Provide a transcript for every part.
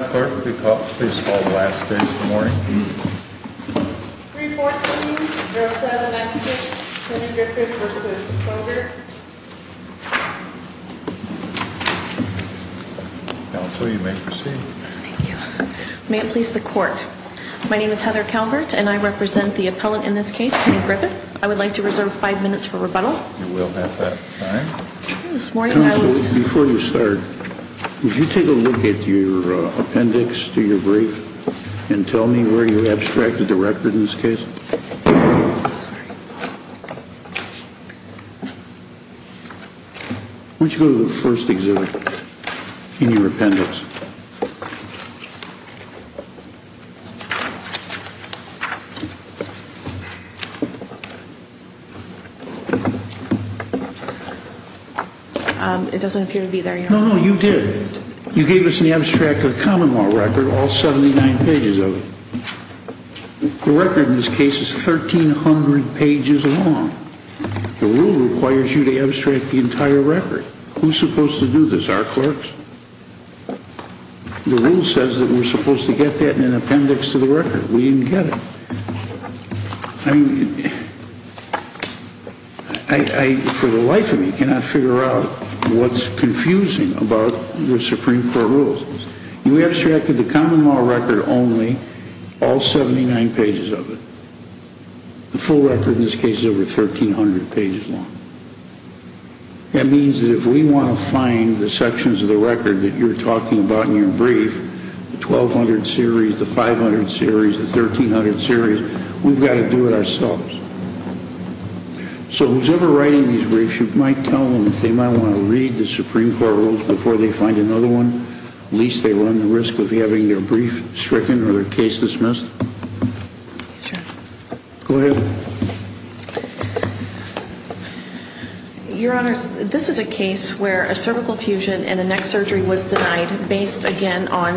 314-0796, Penny Griffith v. Kloger Council, you may proceed. Thank you. May it please the court, my name is Heather Calvert and I represent the appellant in this case, Penny Griffith. I would like to reserve five minutes for rebuttal. You will have that. Council, before we start, would you take a look at your appendix to your brief and tell me where you abstracted the record in this case? Why don't you go to the first exhibit in your appendix? It doesn't appear to be there, Your Honor. No, no, you did. You gave us an abstracted common law record, all 79 pages of it. The record in this case is 1,300 pages long. The rule requires you to abstract the entire record. Who's supposed to do this, our clerks? The rule says that we're supposed to get that in an appendix to the record. We didn't get it. I, for the life of me, cannot figure out what's confusing about the Supreme Court rules. You abstracted the common law record only, all 79 pages of it. The full record in this case is over 1,300 pages long. That means that if we want to find the sections of the record that you're talking about in your brief, the 1,200 series, the 500 series, the 1,300 series, we've got to do it ourselves. So, who's ever writing these briefs, you might tell them that they might want to read the Supreme Court rules before they find another one? At least they run the risk of having their brief stricken or their case dismissed? Sure. Go ahead. Your Honors, this is a case where a cervical fusion and a neck surgery was denied based, again, on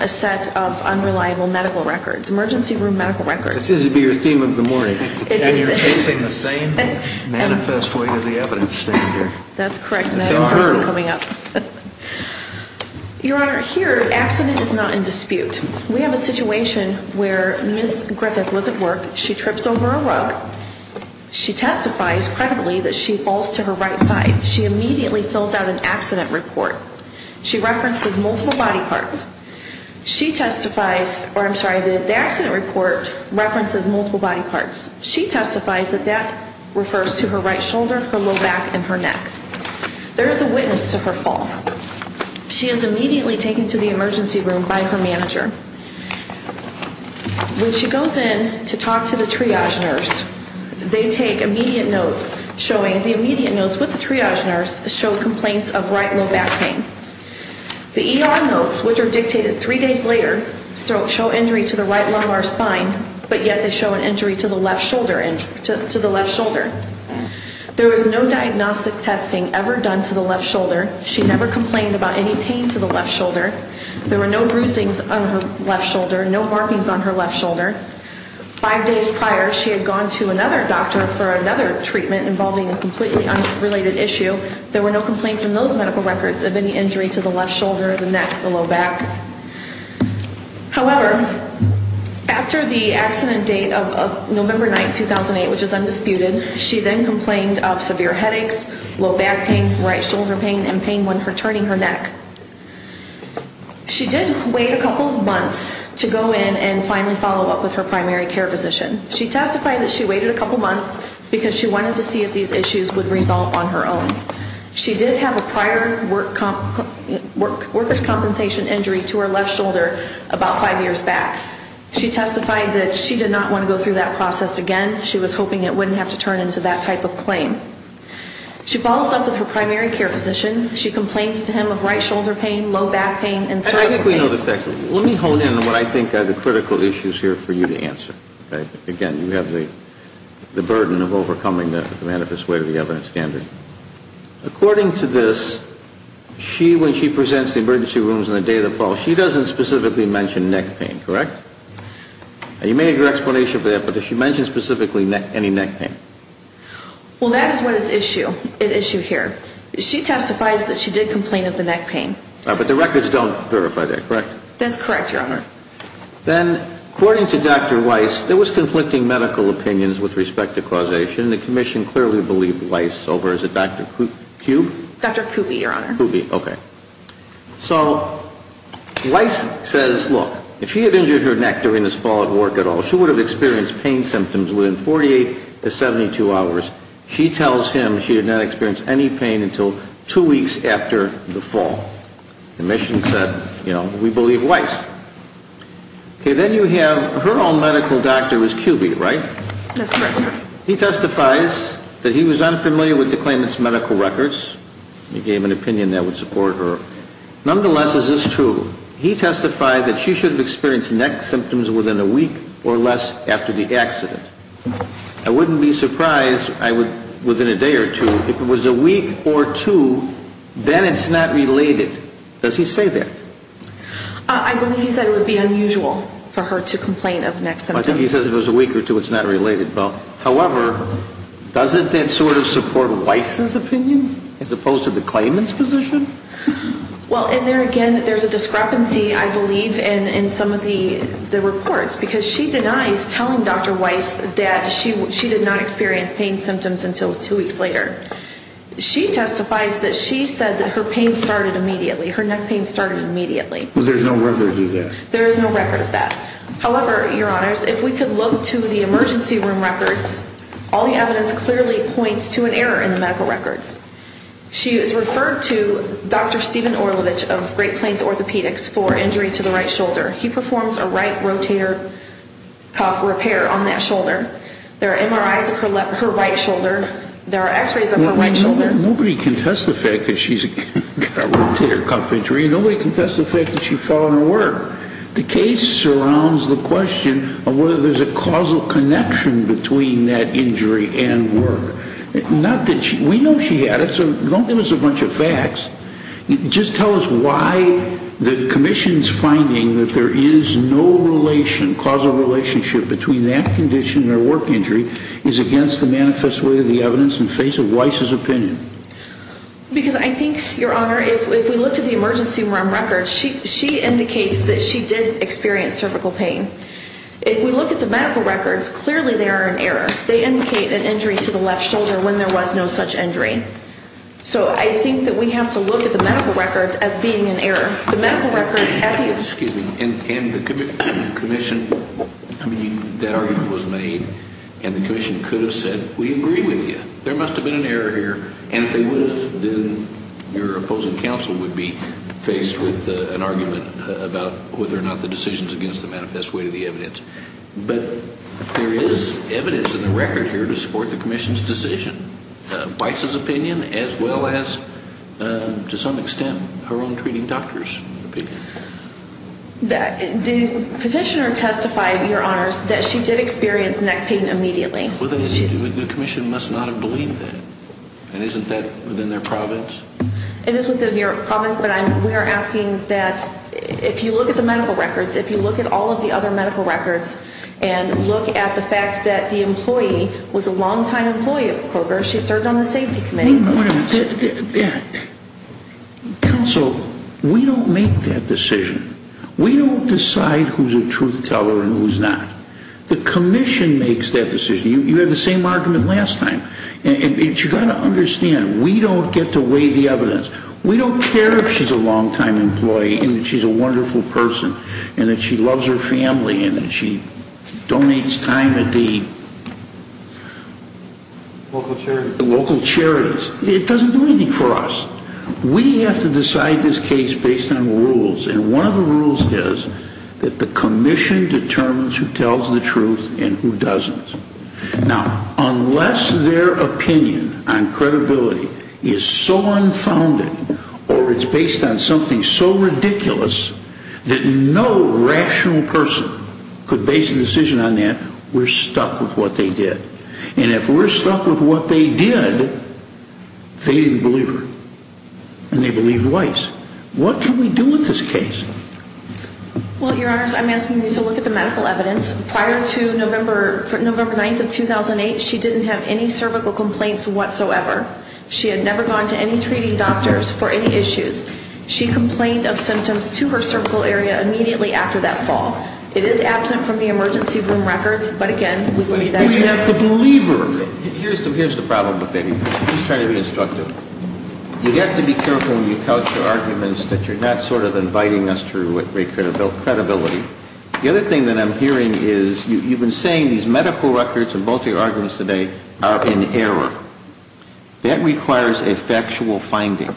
a set of unreliable medical records, emergency room medical records. This is to be your theme of the morning. And you're facing the same manifest way that the evidence is standing here. That's correct, and that's important coming up. Your Honor, here, accident is not in dispute. We have a situation where Ms. Griffith was at work. She trips over a rug. She testifies, credibly, that she falls to her right side. She immediately fills out an accident report. She references multiple body parts. She testifies, or I'm sorry, the accident report references multiple body parts. She testifies that that refers to her right shoulder, her low back, and her neck. There is a witness to her fall. She is immediately taken to the emergency room by her manager. When she goes in to talk to the triage nurse, they take immediate notes showing, the immediate notes with the triage nurse show complaints of right low back pain. The ER notes, which are dictated three days later, show injury to the right lumbar spine, but yet they show an injury to the left shoulder. There was no diagnostic testing ever done to the left shoulder. She never complained about any pain to the left shoulder. There were no bruising on her left shoulder, no markings on her left shoulder. Five days prior, she had gone to another doctor for another treatment involving a completely unrelated issue. There were no complaints in those medical records of any injury to the left shoulder, the neck, the low back. However, after the accident date of November 9, 2008, which is undisputed, she then complained of severe headaches, low back pain, right shoulder pain, and pain when her turning her neck. She did wait a couple of months to go in and finally follow up with her primary care physician. She testified that she waited a couple months because she wanted to see if these issues would result on her own. She did have a prior workers' compensation injury to her left shoulder about five years back. She testified that she did not want to go through that process again. She was hoping it wouldn't have to turn into that type of claim. She follows up with her primary care physician. She complains to him of right shoulder pain, low back pain, and cervical pain. I think we know the facts. Let me hone in on what I think are the critical issues here for you to answer. Again, you have the burden of overcoming the manifest way of the evidence standard. According to this, when she presents the emergency rooms on the day of the fall, she doesn't specifically mention neck pain, correct? You may have your explanation for that, but does she mention specifically any neck pain? Well, that is what is at issue here. She testifies that she did complain of the neck pain. But the records don't verify that, correct? That's correct, Your Honor. Then, according to Dr. Weiss, there was conflicting medical opinions with respect to causation. The commission clearly believed Weiss over as a Dr. Kube? Dr. Kube, Your Honor. Kube, okay. So, Weiss says, look, if she had injured her neck during this fall at work at all, she would have experienced pain symptoms within 48 to 72 hours. She tells him she did not experience any pain until two weeks after the fall. The commission said, you know, we believe Weiss. Okay, then you have her own medical doctor is Kube, right? That's correct, Your Honor. He testifies that he was unfamiliar with the claimant's medical records. He gave an opinion that would support her. Nonetheless, is this true? He testified that she should have experienced neck symptoms within a week or less after the accident. I wouldn't be surprised, I would, within a day or two, if it was a week or two, then it's not related. Does he say that? I believe he said it would be unusual for her to complain of neck symptoms. I think he says if it was a week or two, it's not related, though. However, doesn't that sort of support Weiss's opinion as opposed to the claimant's position? Well, and there again, there's a discrepancy, I believe, in some of the reports because she denies telling Dr. Weiss that she did not experience pain symptoms until two weeks later. She testifies that she said that her pain started immediately, her neck pain started immediately. But there's no record of that. There is no record of that. However, Your Honors, if we could look to the emergency room records, all the evidence clearly points to an error in the medical records. She is referred to Dr. Stephen Orlovich of Great Plains Orthopedics for injury to the right shoulder. He performs a right rotator cuff repair on that shoulder. There are MRIs of her right shoulder. There are x-rays of her right shoulder. Nobody can test the fact that she's got a rotator cuff injury. Nobody can test the fact that she followed her work. The case surrounds the question of whether there's a causal connection between that injury and work. We know she had it, so don't give us a bunch of facts. Just tell us why the commission's finding that there is no causal relationship between that condition and her work injury is against the manifest way of the evidence in the face of Weiss's opinion. Because I think, Your Honor, if we look to the emergency room records, she indicates that she did experience cervical pain. If we look at the medical records, clearly they are an error. They indicate an injury to the left shoulder when there was no such injury. So I think that we have to look at the medical records as being an error. The medical records at the... Excuse me. And the commission, I mean, that argument was made, and the commission could have said, We agree with you. There must have been an error here. And if they would have, then your opposing counsel would be faced with an argument about whether or not the decision is against the manifest way of the evidence. But there is evidence in the record here to support the commission's decision, Weiss's opinion, as well as, to some extent, her own treating doctor's opinion. The petitioner testified, Your Honors, that she did experience neck pain immediately. The commission must not have believed that. And isn't that within their province? It is within their province, but we are asking that if you look at the medical records, if you look at all of the other medical records and look at the fact that the employee was a long-time employee of Kroger, she served on the safety committee. Wait a minute. Counsel, we don't make that decision. We don't decide who's a truth teller and who's not. The commission makes that decision. You had the same argument last time. And you've got to understand, we don't get to weigh the evidence. We don't care if she's a long-time employee and she's a wonderful person and that she loves her family and that she donates time at the local charities. It doesn't do anything for us. We have to decide this case based on rules, and one of the rules is that the commission determines who tells the truth and who doesn't. Now, unless their opinion on credibility is so unfounded or it's based on something so ridiculous that no rational person could base a decision on that, we're stuck with what they did. And if we're stuck with what they did, they didn't believe her. And they believed Weiss. What can we do with this case? Well, Your Honors, I'm asking you to look at the medical evidence. Prior to November 9th of 2008, she didn't have any cervical complaints whatsoever. She had never gone to any treating doctors for any issues. She complained of symptoms to her cervical area immediately after that fall. It is absent from the emergency room records, but again, we believe that's it. We have to believe her. Here's the problem with it. I'm just trying to be instructive. You have to be careful when you couch your arguments that you're not sort of inviting us through with credibility. The other thing that I'm hearing is you've been saying these medical records and both of your arguments today are in error. That requires a factual finding.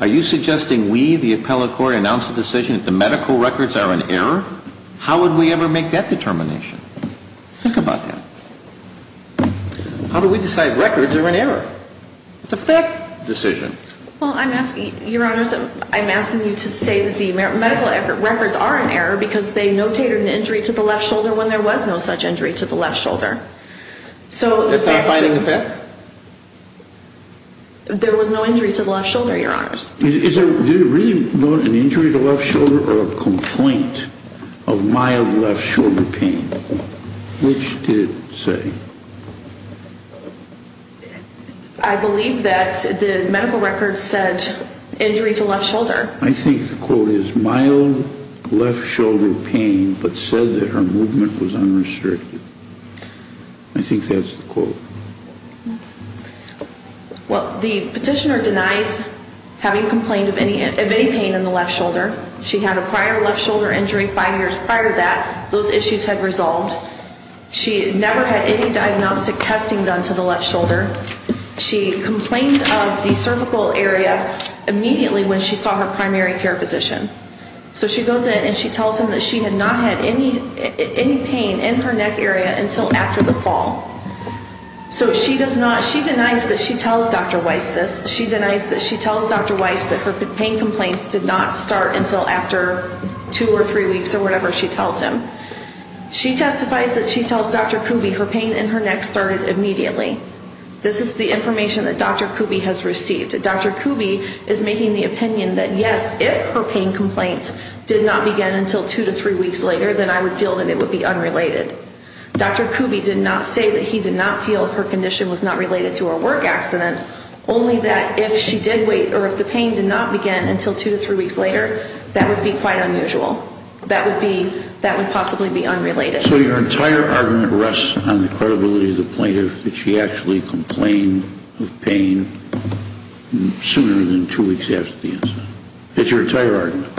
Are you suggesting we, the appellate court, announce a decision that the medical records are in error? How would we ever make that determination? Think about that. How do we decide records are in error? It's a fact decision. Well, Your Honors, I'm asking you to say that the medical records are in error because they notated an injury to the left shoulder when there was no such injury to the left shoulder. That's not a finding of fact? There was no injury to the left shoulder, Your Honors. Did it really note an injury to the left shoulder or a complaint of mild left shoulder pain? Which did it say? I believe that the medical records said injury to left shoulder. I think the quote is mild left shoulder pain but said that her movement was unrestricted. I think that's the quote. Well, the petitioner denies having complained of any pain in the left shoulder. She had a prior left shoulder injury five years prior to that. Those issues had resolved. She never had any diagnostic testing done to the left shoulder. She complained of the cervical area immediately when she saw her primary care physician. So she goes in and she tells him that she had not had any pain in her neck area until after the fall. So she does not, she denies that she tells Dr. Weiss this. She denies that she tells Dr. Weiss that her pain complaints did not start until after two or three weeks or whatever she tells him. She testifies that she tells Dr. Kuby her pain in her neck started immediately. This is the information that Dr. Kuby has received. Dr. Kuby is making the opinion that, yes, if her pain complaints did not begin until two to three weeks later, then I would feel that it would be unrelated. Dr. Kuby did not say that he did not feel her condition was not related to her work accident, only that if she did wait or if the pain did not begin until two to three weeks later, that would be quite unusual. That would be, that would possibly be unrelated. So your entire argument rests on the credibility of the plaintiff, that she actually complained of pain sooner than two weeks after the incident. That's your entire argument.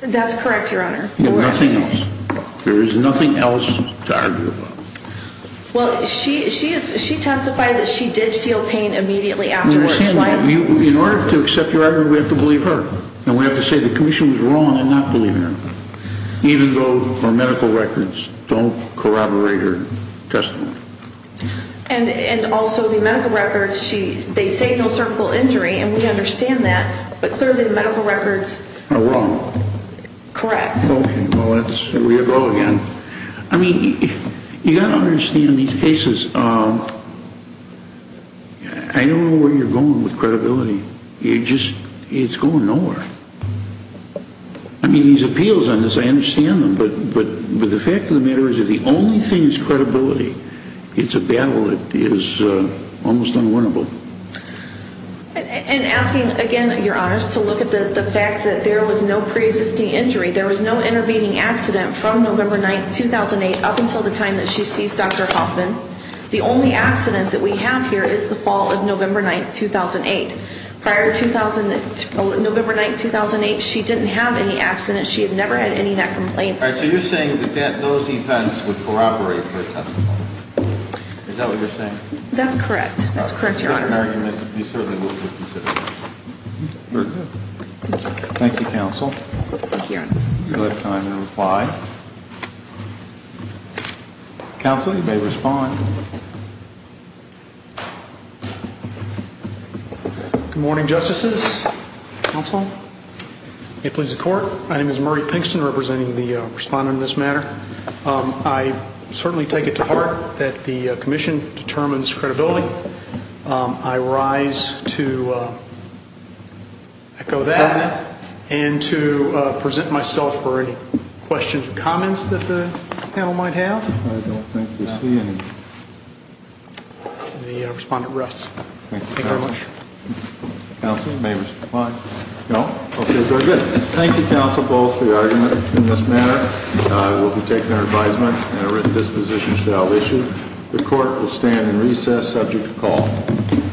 That's correct, Your Honor. There is nothing else. There is nothing else to argue about. Well, she testified that she did feel pain immediately after her spine. In order to accept your argument, we have to believe her. And we have to say the commission was wrong in not believing her, even though her medical records don't corroborate her testimony. And also the medical records, they say no cervical injury, and we understand that, but clearly the medical records are wrong. Correct. Okay, well, we'll go again. I mean, you've got to understand in these cases, I don't know where you're going with credibility. It's going nowhere. I mean, these appeals on this, I understand them, but the fact of the matter is if the only thing is credibility, it's a battle that is almost unwinnable. And asking again, Your Honors, to look at the fact that there was no preexisting injury, there was no intervening accident from November 9, 2008, up until the time that she seized Dr. Hoffman. The only accident that we have here is the fall of November 9, 2008. Prior to November 9, 2008, she didn't have any accidents. She had never had any neck complaints. All right, so you're saying that those events would corroborate her testimony. Is that what you're saying? That's correct. That's correct, Your Honor. If you get an argument, you certainly will be considered. Very good. Thank you, Counsel. Thank you, Your Honor. You'll have time to reply. Counsel, you may respond. Good morning, Justices. Counsel, may it please the Court. My name is Murray Pinkston, representing the respondent in this matter. I certainly take it to heart that the commission determines credibility. I rise to echo that and to present myself for any questions or comments that the panel might have. I don't think we see any. The respondent rests. Thank you very much. Counsel, may we reply? No? Okay, very good. Thank you, Counsel, both for the argument in this matter. We'll be taking our advisement and a written disposition shall issue. The Court will stand in recess subject to call.